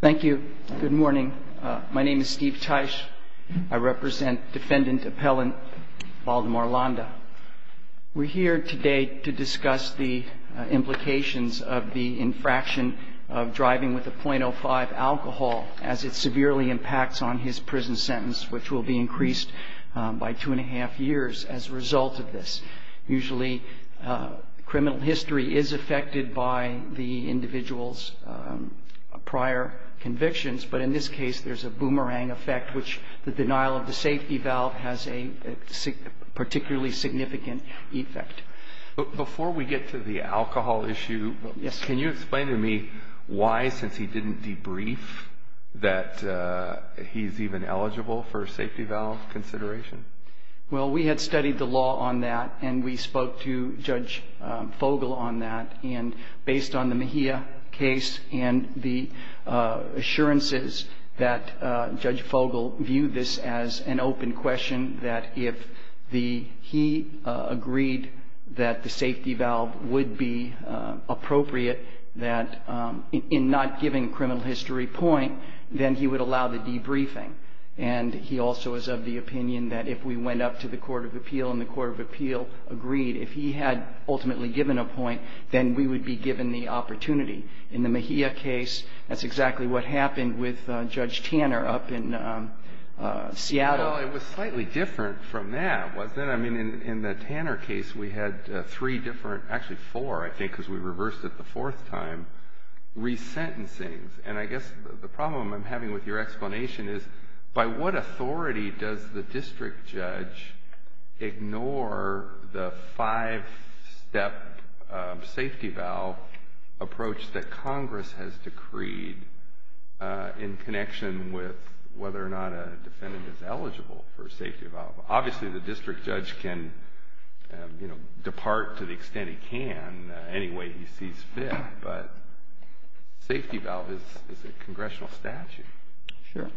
Thank you. Good morning. My name is Steve Teich. I represent defendant-appellant Baldemar Landa. We're here today to discuss the implications of the infraction of driving with a .05 alcohol as it severely impacts on his prison sentence, which will be increased by two and a half years as a result of this. Usually criminal history is affected by the individual's prior convictions, but in this case there's a boomerang effect, which the denial of the safety valve has a particularly significant effect. Before we get to the alcohol issue, can you explain to me why, since he didn't debrief, that he's even eligible for a safety valve consideration? Well, we had studied the law on that, and we spoke to Judge Fogel on that, and based on the Mejia case and the assurances that Judge Fogel viewed this as an open question, that if he agreed that the safety valve would be appropriate in not giving a criminal history point, then he would allow the debriefing. And he also is of the opinion that if we went up to the court of appeal and the court of appeal agreed, if he had ultimately given a point, then we would be given the opportunity. In the Mejia case, that's exactly what happened with Judge Tanner up in Seattle. Well, it was slightly different from that, wasn't it? I mean, in the Tanner case we had three different – actually four, I think, because we reversed it the fourth time – resentencings. And I guess the problem I'm having with your explanation is, by what authority does the district judge ignore the five-step safety valve approach that Congress has decreed in connection with whether or not a defendant is eligible for a safety valve? Obviously, the district judge can depart to the extent he can any way he sees fit, but safety valve is a congressional statute. Sure.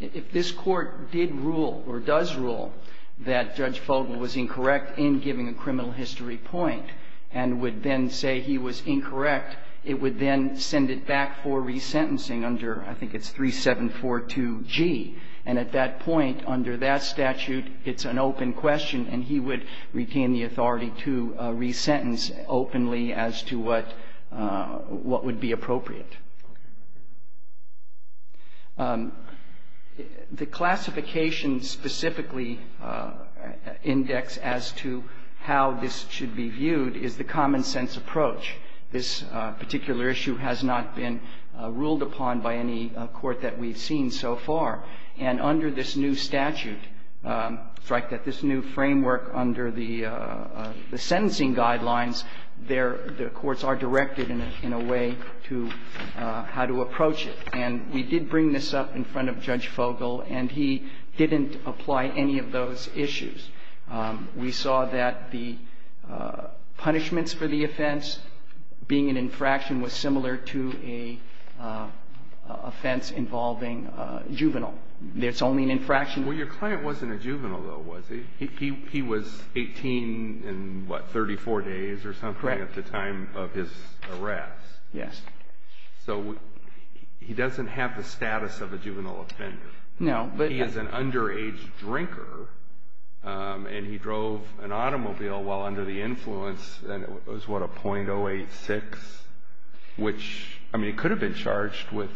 If this court did rule or does rule that Judge Fogle was incorrect in giving a criminal history point and would then say he was incorrect, it would then send it back for resentencing under – I think it's 3742G. And at that point, under that statute, it's an open question, and he would retain the authority to resentence openly as to what would be appropriate. The classification specifically indexed as to how this should be viewed is the common-sense approach. This particular issue has not been ruled upon by any court that we've seen so far. And under this new statute, strike that this new framework under the sentencing guidelines, the courts are directed in a way to how to approach it. And we did bring this up in front of Judge Fogle, and he didn't apply any of those issues. We saw that the punishments for the offense being an infraction was similar to an offense involving a juvenile. It's only an infraction. Well, your client wasn't a juvenile, though, was he? He was 18 and, what, 34 days or something at the time of his arrest. Yes. So he doesn't have the status of a juvenile offender. No. He is an underage drinker, and he drove an automobile while under the influence. And it was, what, a .086, which, I mean, it could have been charged with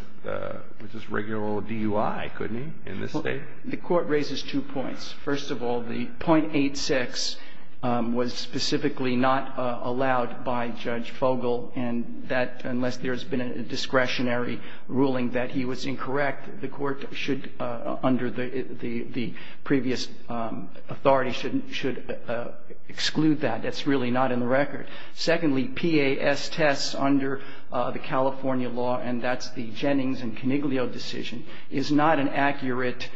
just regular DUI, couldn't he, in this State? The Court raises two points. First of all, the .86 was specifically not allowed by Judge Fogle, and that, unless there has been a discretionary ruling that he was incorrect, the Court should, under the previous authority, should exclude that. That's really not in the record. Secondly, PAS tests under the California law, and that's the Jennings and Coniglio decision, is not an accurate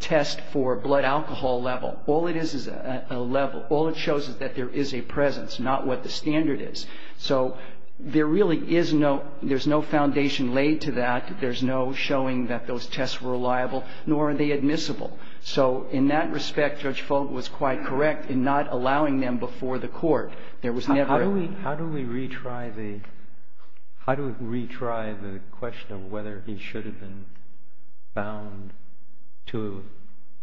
test for blood alcohol level. All it is is a level. All it shows is that there is a presence, not what the standard is. So there really is no foundation laid to that. There's no showing that those tests were reliable, nor are they admissible. So in that respect, Judge Fogle was quite correct in not allowing them before the Court. There was never a... How do we retry the question of whether he should have been bound to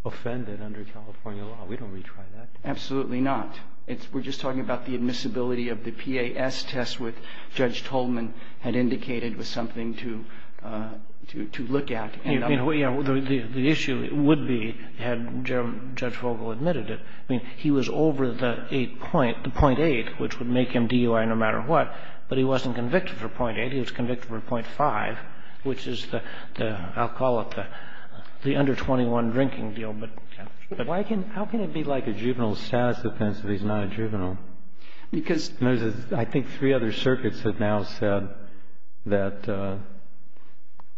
offend it under California law? We don't retry that. Absolutely not. We're just talking about the admissibility of the PAS test, which Judge Tolman had indicated was something to look at. The issue would be, had Judge Fogle admitted it, I mean, he was over the 8 point, the .8, which would make him DUI no matter what, but he wasn't convicted for .8. He was convicted for .5, which is the, I'll call it the under 21 drinking deal. But how can it be like a juvenile status offense if he's not a juvenile? Because... I think three other circuits have now said that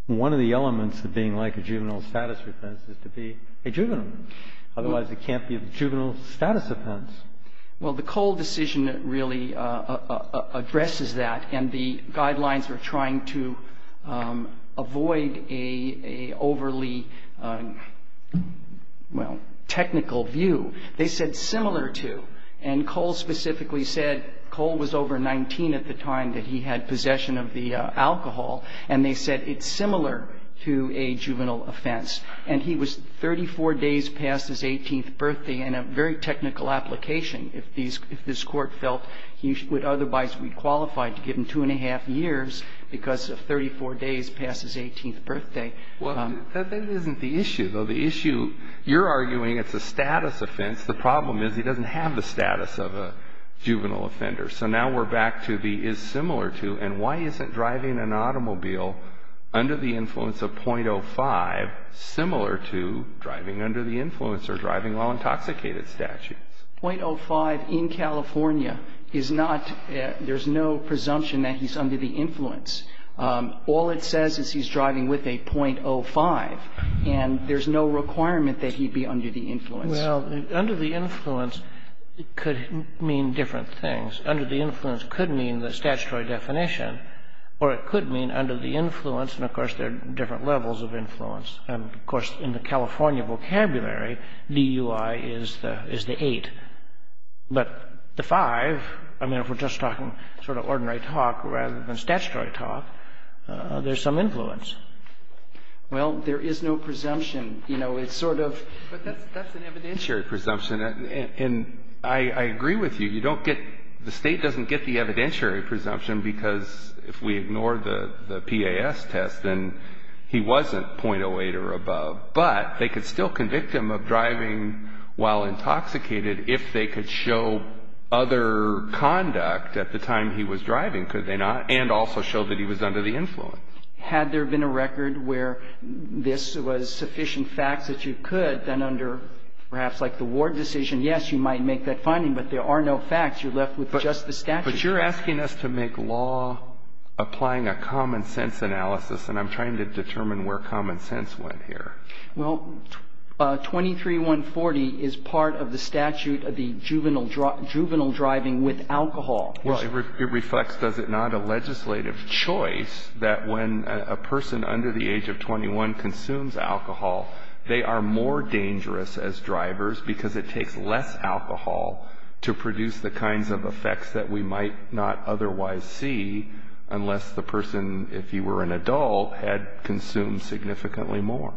one of the elements of being like a juvenile status offense is to be a juvenile. Otherwise, it can't be a juvenile status offense. Well, the Cole decision really addresses that, and the guidelines are trying to avoid an overly, well, technical view. They said similar to, and Cole specifically said, Cole was over 19 at the time that he had possession of the alcohol, and they said it's similar to a juvenile offense. And he was 34 days past his 18th birthday, and a very technical application if these, if this Court felt he would otherwise be qualified to give him 2-1-2 years because of 34 days past his 18th birthday. Well, that isn't the issue, though. The issue, you're arguing it's a status offense. The problem is he doesn't have the status of a juvenile offender. So now we're back to the is similar to, and why isn't driving an automobile under the influence of .05 similar to driving under the influence or driving while intoxicated statute? .05 in California is not, there's no presumption that he's under the influence. All it says is he's driving with a .05, and there's no requirement that he be under the influence. Well, under the influence, it could mean different things. Under the influence could mean the statutory definition, or it could mean under the influence, and, of course, there are different levels of influence. And, of course, in the California vocabulary, DUI is the 8. But the 5, I mean, if we're just talking sort of ordinary talk rather than statutory talk, there's some influence. Well, there is no presumption. You know, it's sort of. But that's an evidentiary presumption. And I agree with you. You don't get, the State doesn't get the evidentiary presumption because if we ignore the PAS test, then he wasn't .08 or above. But they could still convict him of driving while intoxicated if they could show other conduct at the time he was driving, could they not, and also show that he was under the influence. Had there been a record where this was sufficient facts that you could, then under perhaps like the Ward decision, yes, you might make that finding, but there are no facts. You're left with just the statute. But you're asking us to make law applying a common sense analysis, and I'm trying to determine where common sense went here. Well, 23-140 is part of the statute of the juvenile driving with alcohol. Well, it reflects, does it not, a legislative choice that when a person under the age of 21 consumes alcohol, they are more dangerous as drivers because it takes less alcohol to produce the kinds of effects that we might not otherwise see unless the person, if he were an adult, had consumed significantly more.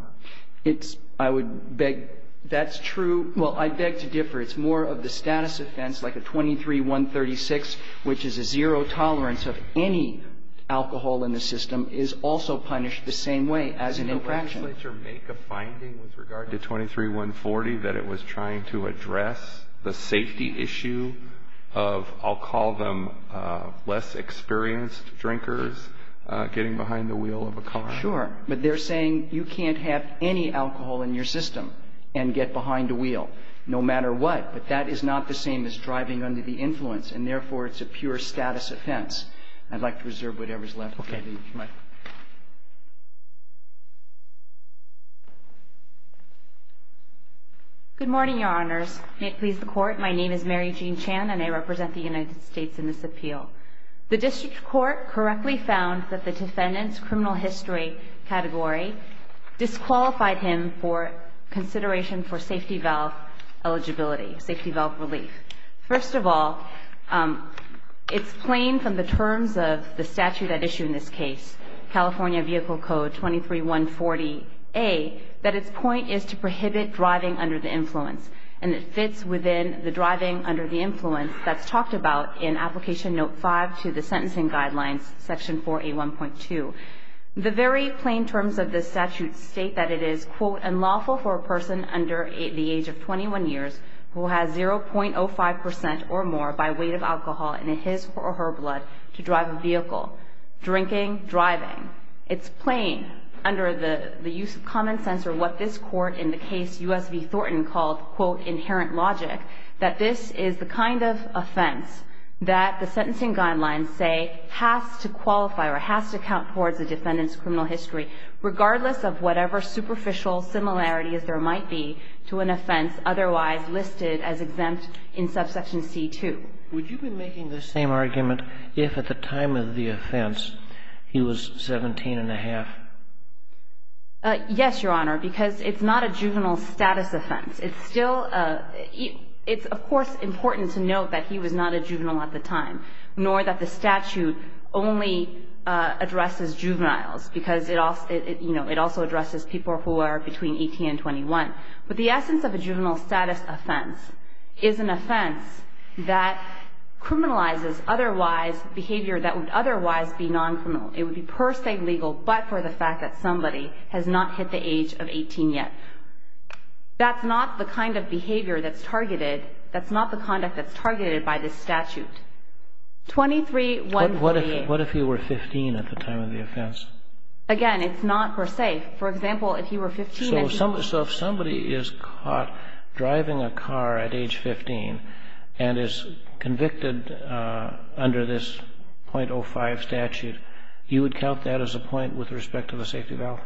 It's, I would beg, that's true. Well, I beg to differ. It's more of the status offense, like a 23-136, which is a zero tolerance of any alcohol in the system, is also punished the same way as an infraction. Would the legislature make a finding with regard to 23-140 that it was trying to address the safety issue of, I'll call them less experienced drinkers getting behind the wheel of a car? Sure. But they're saying you can't have any alcohol in your system and get behind a wheel no matter what. But that is not the same as driving under the influence, and therefore it's a pure status offense. I'd like to reserve whatever's left of the mic. Good morning, Your Honors. May it please the Court. My name is Mary Jean Chan, and I represent the United States in this appeal. The district court correctly found that the defendant's criminal history category disqualified him for consideration for safety valve eligibility, safety valve relief. First of all, it's plain from the terms of the statute at issue in this case California Vehicle Code 23-140A that its point is to prohibit driving under the influence, and it fits within the driving under the influence that's talked about in Application Note 5 to the Sentencing Guidelines, Section 4A1.2. The very plain terms of the statute state that it is, quote, unlawful for a person under the age of 21 years who has 0.05% or more by weight of alcohol in his or her life to be driving. It's plain under the use of common sense or what this Court in the case U.S. v. Thornton called, quote, inherent logic, that this is the kind of offense that the Sentencing Guidelines say has to qualify or has to count towards the defendant's criminal history, regardless of whatever superficial similarities there might be to an offense otherwise listed as exempt in Subsection C-2. Would you be making the same argument if at the time of the offense he was 17 1⁄2? Yes, Your Honor, because it's not a juvenile status offense. It's still a – it's, of course, important to note that he was not a juvenile at the time, nor that the statute only addresses juveniles, because it also, you know, it also addresses people who are between 18 and 21. But the essence of a juvenile status offense is an offense that criminalizes otherwise – behavior that would otherwise be non-criminal. It would be per se legal, but for the fact that somebody has not hit the age of 18 yet. That's not the kind of behavior that's targeted. That's not the conduct that's targeted by this statute. 23-148. What if he were 15 at the time of the offense? Again, it's not per se. So if somebody is caught driving a car at age 15 and is convicted under this .05 statute, you would count that as a point with respect to the safety valve?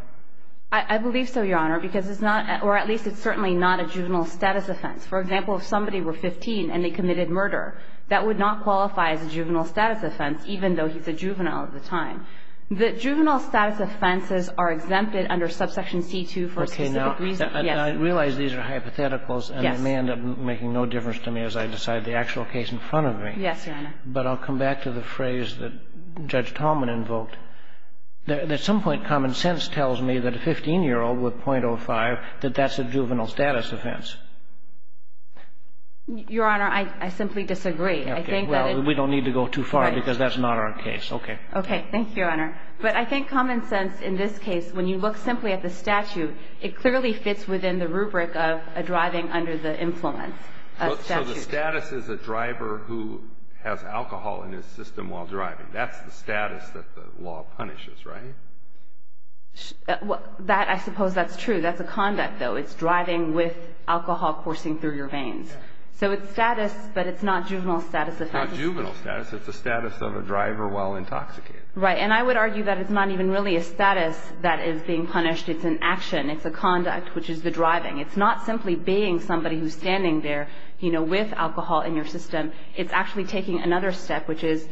I believe so, Your Honor, because it's not – or at least it's certainly not a juvenile status offense. For example, if somebody were 15 and they committed murder, that would not qualify as a juvenile status offense, even though he's a juvenile at the time. The juvenile status offenses are exempted under subsection C-2 for a specific Okay. Now, I realize these are hypotheticals. Yes. And they may end up making no difference to me as I decide the actual case in front of me. Yes, Your Honor. But I'll come back to the phrase that Judge Tallman invoked. At some point, common sense tells me that a 15-year-old with .05, that that's a juvenile status offense. Your Honor, I simply disagree. Okay. Well, we don't need to go too far because that's not our case. Okay. Okay. Thank you, Your Honor. But I think common sense in this case, when you look simply at the statute, it clearly fits within the rubric of a driving under the influence statute. So the status is a driver who has alcohol in his system while driving. That's the status that the law punishes, right? I suppose that's true. That's a conduct, though. It's driving with alcohol coursing through your veins. So it's status, but it's not juvenile status offense. It's not juvenile status. It's a status of a driver while intoxicated. Right. And I would argue that it's not even really a status that is being punished. It's an action. It's a conduct, which is the driving. It's not simply baying somebody who's standing there, you know, with alcohol in your system. It's actually taking another step, which is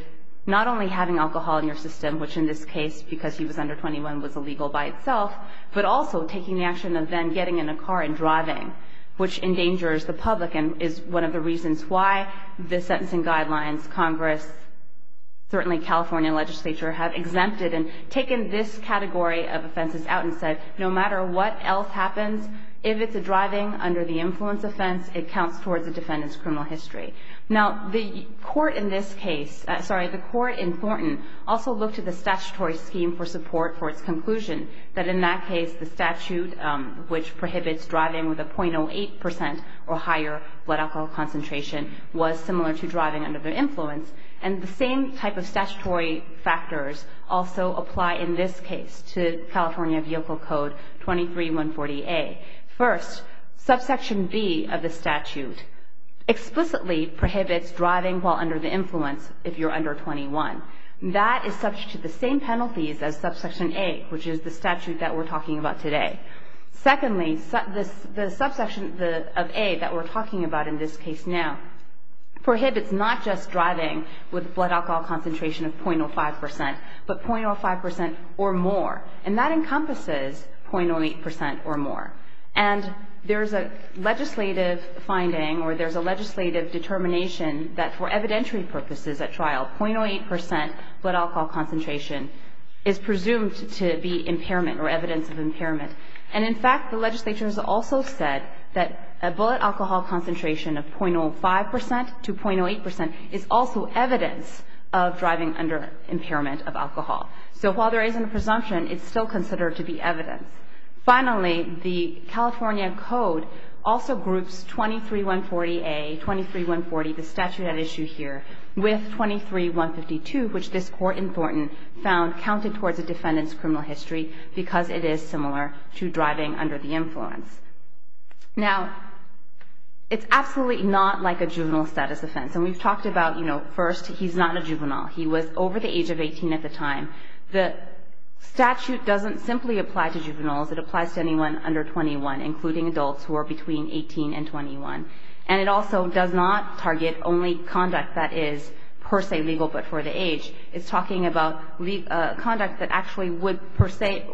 not only having alcohol in your system, which in this case, because he was under 21, was illegal by itself, but also taking the action of then getting in a car and driving, which endangers the public and is one of the reasons why the sentencing guidelines, Congress, certainly California legislature, have exempted and taken this category of offenses out and said no matter what else happens, if it's a driving under the influence offense, it counts towards the defendant's criminal history. Now, the court in this case, sorry, the court in Thornton also looked at the statutory scheme for support for its conclusion that in that case, the statute, which prohibits driving with a .08 percent or higher blood alcohol concentration, was similar to driving under the influence. And the same type of statutory factors also apply in this case to California Vehicle Code 23-140A. First, subsection B of the statute explicitly prohibits driving while under the influence if you're under 21. That is subject to the same penalties as subsection A, which is the statute that we're talking about today. Secondly, the subsection of A that we're talking about in this case now prohibits not just driving with a blood alcohol concentration of .05 percent, but .05 percent or more. And that encompasses .08 percent or more. And there's a legislative finding or there's a legislative determination that for evidentiary purposes at trial, .08 percent blood alcohol concentration is presumed to be impairment or evidence of impairment. And in fact, the legislature has also said that a blood alcohol concentration of .05 percent to .08 percent is also evidence of driving under impairment of alcohol. So while there isn't a presumption, it's still considered to be evidence. Finally, the California Code also groups 23-140A, 23-140, the statute at issue here, with 23-152, which this court in Thornton found counted towards a defendant's criminal history because it is similar to driving under the influence. Now, it's absolutely not like a juvenile status offense. And we've talked about, you know, first, he's not a juvenile. He was over the age of 18 at the time. The statute doesn't simply apply to juveniles. It applies to anyone under 21, including adults who are between 18 and 21. And it also does not target only conduct that is per se legal but for the age. It's talking about conduct that actually would per se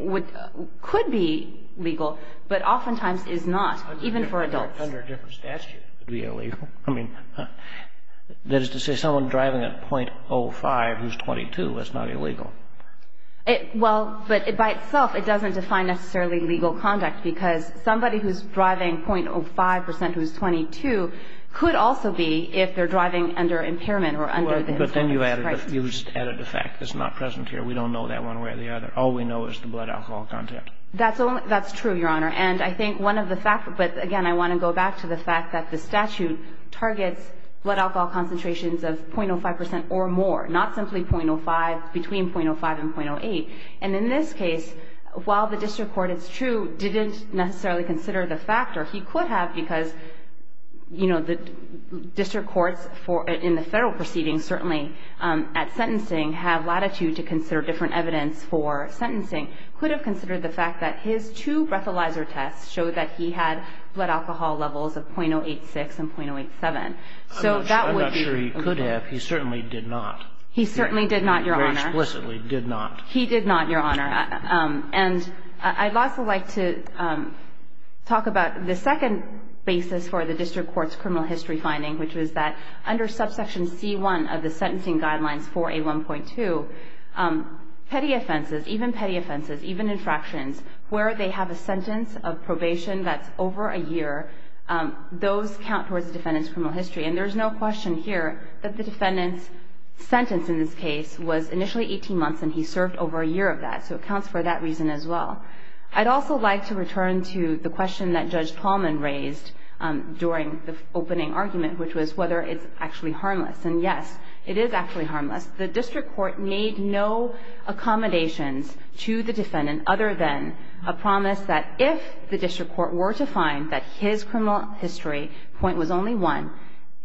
be legal, but oftentimes is not, even for adults. Under a different statute, it would be illegal. I mean, that is to say someone driving at .05 who's 22 is not illegal. Well, but by itself, it doesn't define necessarily legal conduct because somebody who's driving .05 who's 22 could also be if they're driving under impairment or under the influence. Right. But then you added a fact that's not present here. We don't know that one way or the other. All we know is the blood alcohol content. That's true, Your Honor. And I think one of the factors – but, again, I want to go back to the fact that the statute targets blood alcohol concentrations of .05 percent or more, not simply .05, between .05 and .08. And in this case, while the district court, it's true, didn't necessarily consider the factor, he could have because, you know, the district courts in the Federal proceedings, certainly at sentencing, have latitude to consider different evidence for sentencing, could have considered the fact that his two breathalyzer tests showed that he had blood alcohol levels of .086 and .087. So that would be illegal. I'm not sure he could have. He certainly did not. He certainly did not, Your Honor. Very explicitly did not. He did not, Your Honor. And I'd also like to talk about the second basis for the district court's criminal history finding, which was that under subsection C1 of the sentencing guidelines for A1.2, petty offenses, even petty offenses, even infractions, where they have a sentence of probation that's over a year, those count towards the defendant's criminal history. And there's no question here that the defendant's sentence in this case was initially 18 months, and he served over a year of that, so it counts for that reason as well. I'd also like to return to the question that Judge Tallman raised during the opening argument, which was whether it's actually harmless. And, yes, it is actually harmless. The district court made no accommodations to the defendant other than a promise that if the district court were to find that his criminal history point was only one,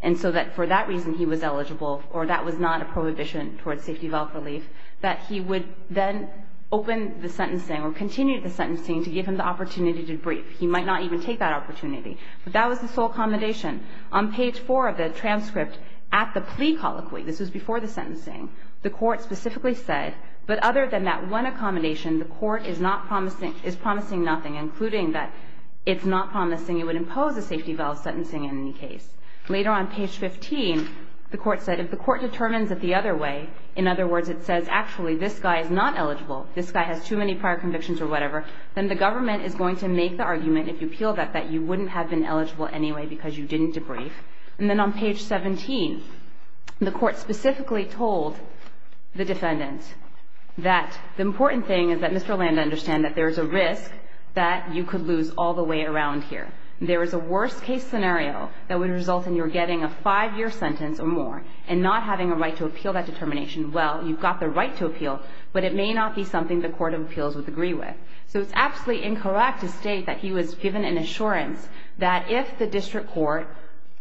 and so that for that reason he was eligible or that was not a prohibition towards safety valve relief, that he would then open the sentencing or continue the sentencing to give him the opportunity to brief. He might not even take that opportunity. But that was the sole accommodation. On page 4 of the transcript at the plea colloquy, this was before the sentencing, the Court specifically said, but other than that one accommodation, the Court is not promising – is promising nothing, including that it's not promising it would impose a safety valve sentencing in any case. Later on page 15, the Court said if the Court determines it the other way, in other words, it says actually this guy is not eligible, this guy has too many prior convictions or whatever, then the government is going to make the argument, if you appeal that, that you wouldn't have been eligible anyway because you didn't debrief. And then on page 17, the Court specifically told the defendant that the important thing is that Mr. Landa understand that there is a risk that you could lose all the way around here. There is a worst-case scenario that would result in your getting a five-year sentence or more and not having a right to appeal that determination. Well, you've got the right to appeal, but it may not be something the Court of Appeals would agree with. So it's absolutely incorrect to state that he was given an assurance that if the district court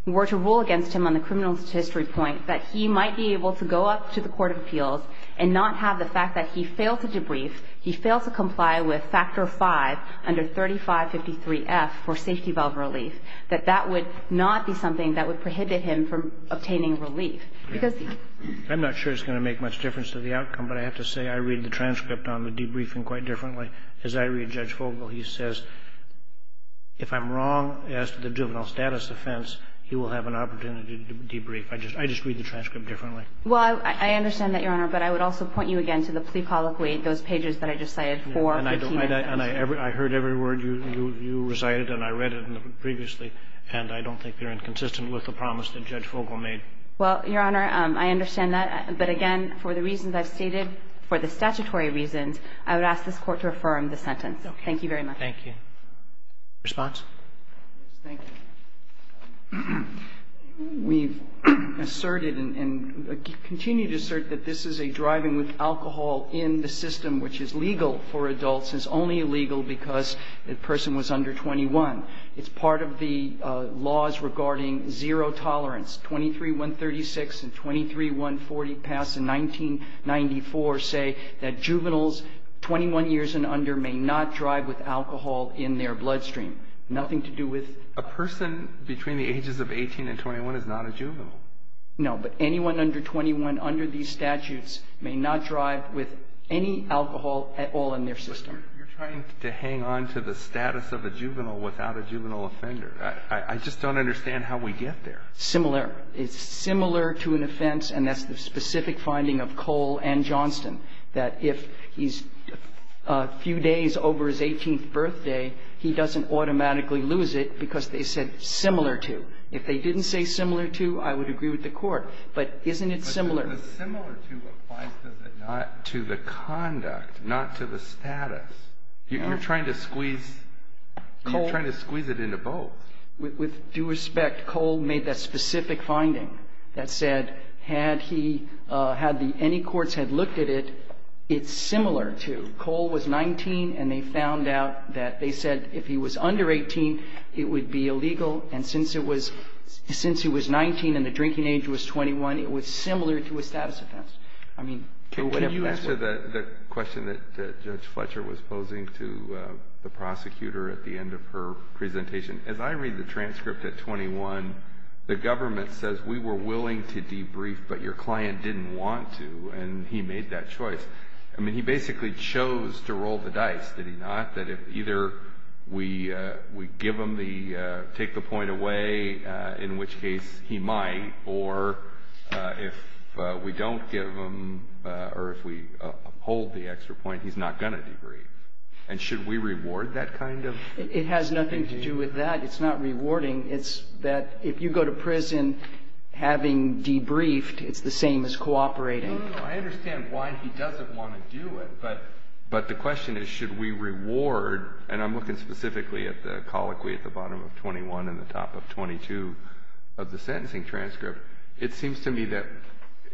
were to rule against him on the criminal history point, that he might be able to go up to the Court of Appeals and not have the fact that he failed to debrief, he failed to comply with Factor 5 under 3553F for safety valve relief, that that would not be something that would prohibit him from obtaining relief. I'm not sure it's going to make much difference to the outcome, but I have to say I read the transcript on the debriefing quite differently. As I read Judge Fogel, he says, if I'm wrong as to the juvenile status offense, he will have an opportunity to debrief. I just read the transcript differently. Well, I understand that, Your Honor, but I would also point you again to the plea colloquy, those pages that I just cited for the team evidence. And I heard every word you recited and I read it previously, and I don't think they're inconsistent with the promise that Judge Fogel made. Well, Your Honor, I understand that. But again, for the reasons I've stated, for the statutory reasons, I would ask this Court to affirm the sentence. Thank you very much. Thank you. Response? Thank you. We've asserted and continue to assert that this is a driving with alcohol in the system which is legal for adults, is only legal because the person was under 21. It's part of the laws regarding zero tolerance. 23-136 and 23-140 passed in 1994 say that juveniles 21 years and under may not drive with alcohol in their bloodstream. Nothing to do with ---- A person between the ages of 18 and 21 is not a juvenile. No. But anyone under 21 under these statutes may not drive with any alcohol at all in their system. But you're trying to hang on to the status of a juvenile without a juvenile offender. I just don't understand how we get there. Similar. It's similar to an offense, and that's the specific finding of Cole and Johnston, that if he's a few days over his 18th birthday, he doesn't automatically lose it because they said similar to. If they didn't say similar to, I would agree with the Court. But isn't it similar? But the similar to applies to the conduct, not to the status. You're trying to squeeze it into both. With due respect, Cole made that specific finding that said, had any courts had looked at it, it's similar to. Cole was 19, and they found out that they said if he was under 18, it would be illegal. And since it was 19 and the drinking age was 21, it was similar to a status offense. I mean, whatever that's like. Can you answer the question that Judge Fletcher was posing to the prosecutor at the end of her presentation? As I read the transcript at 21, the government says we were willing to debrief, but your client didn't want to, and he made that choice. I mean, he basically chose to roll the dice, did he not? That if either we give him the, take the point away, in which case he might, or if we don't give him or if we uphold the extra point, he's not going to debrief. And should we reward that kind of behavior? It has nothing to do with that. It's not rewarding. It's that if you go to prison having debriefed, it's the same as cooperating. I understand why he doesn't want to do it. But the question is, should we reward? And I'm looking specifically at the colloquy at the bottom of 21 and the top of 22 of the sentencing transcript. It seems to me that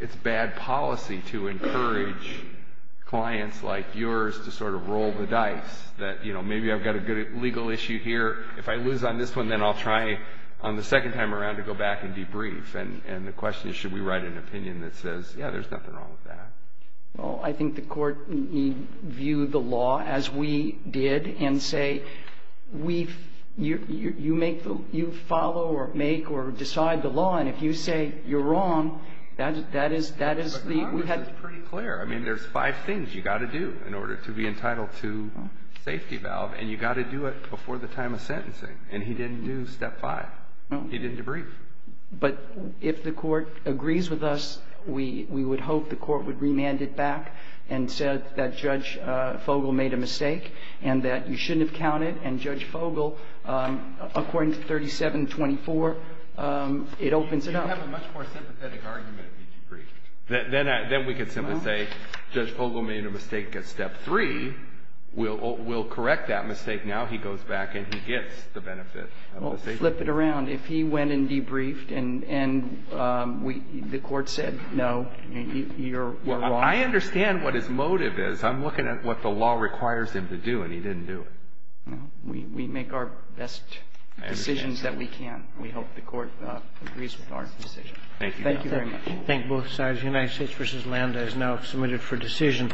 it's bad policy to encourage clients like yours to sort of roll the dice, that, you know, maybe I've got a good legal issue here. If I lose on this one, then I'll try on the second time around to go back and debrief. And the question is, should we write an opinion that says, yeah, there's nothing wrong with that? Well, I think the court need view the law as we did and say, you follow or make or decide the law. And if you say you're wrong, that is the – But Congress is pretty clear. I mean, there's five things you've got to do in order to be entitled to safety valve. And you've got to do it before the time of sentencing. And he didn't do step five. He didn't debrief. But if the court agrees with us, we would hope the court would remand it back and said that Judge Fogel made a mistake and that you shouldn't have counted. And Judge Fogel, according to 3724, it opens it up. You have a much more sympathetic argument if you debrief. Then we could simply say Judge Fogel made a mistake at step three. We'll correct that mistake now. He goes back and he gets the benefit of the decision. Well, flip it around. If he went and debriefed and the court said no, you're wrong. Well, I understand what his motive is. I'm looking at what the law requires him to do, and he didn't do it. We make our best decisions that we can. We hope the court agrees with our decision. Thank you, Your Honor. Thank you very much. Thank you both sides. United States v. Landa is now submitted for decision.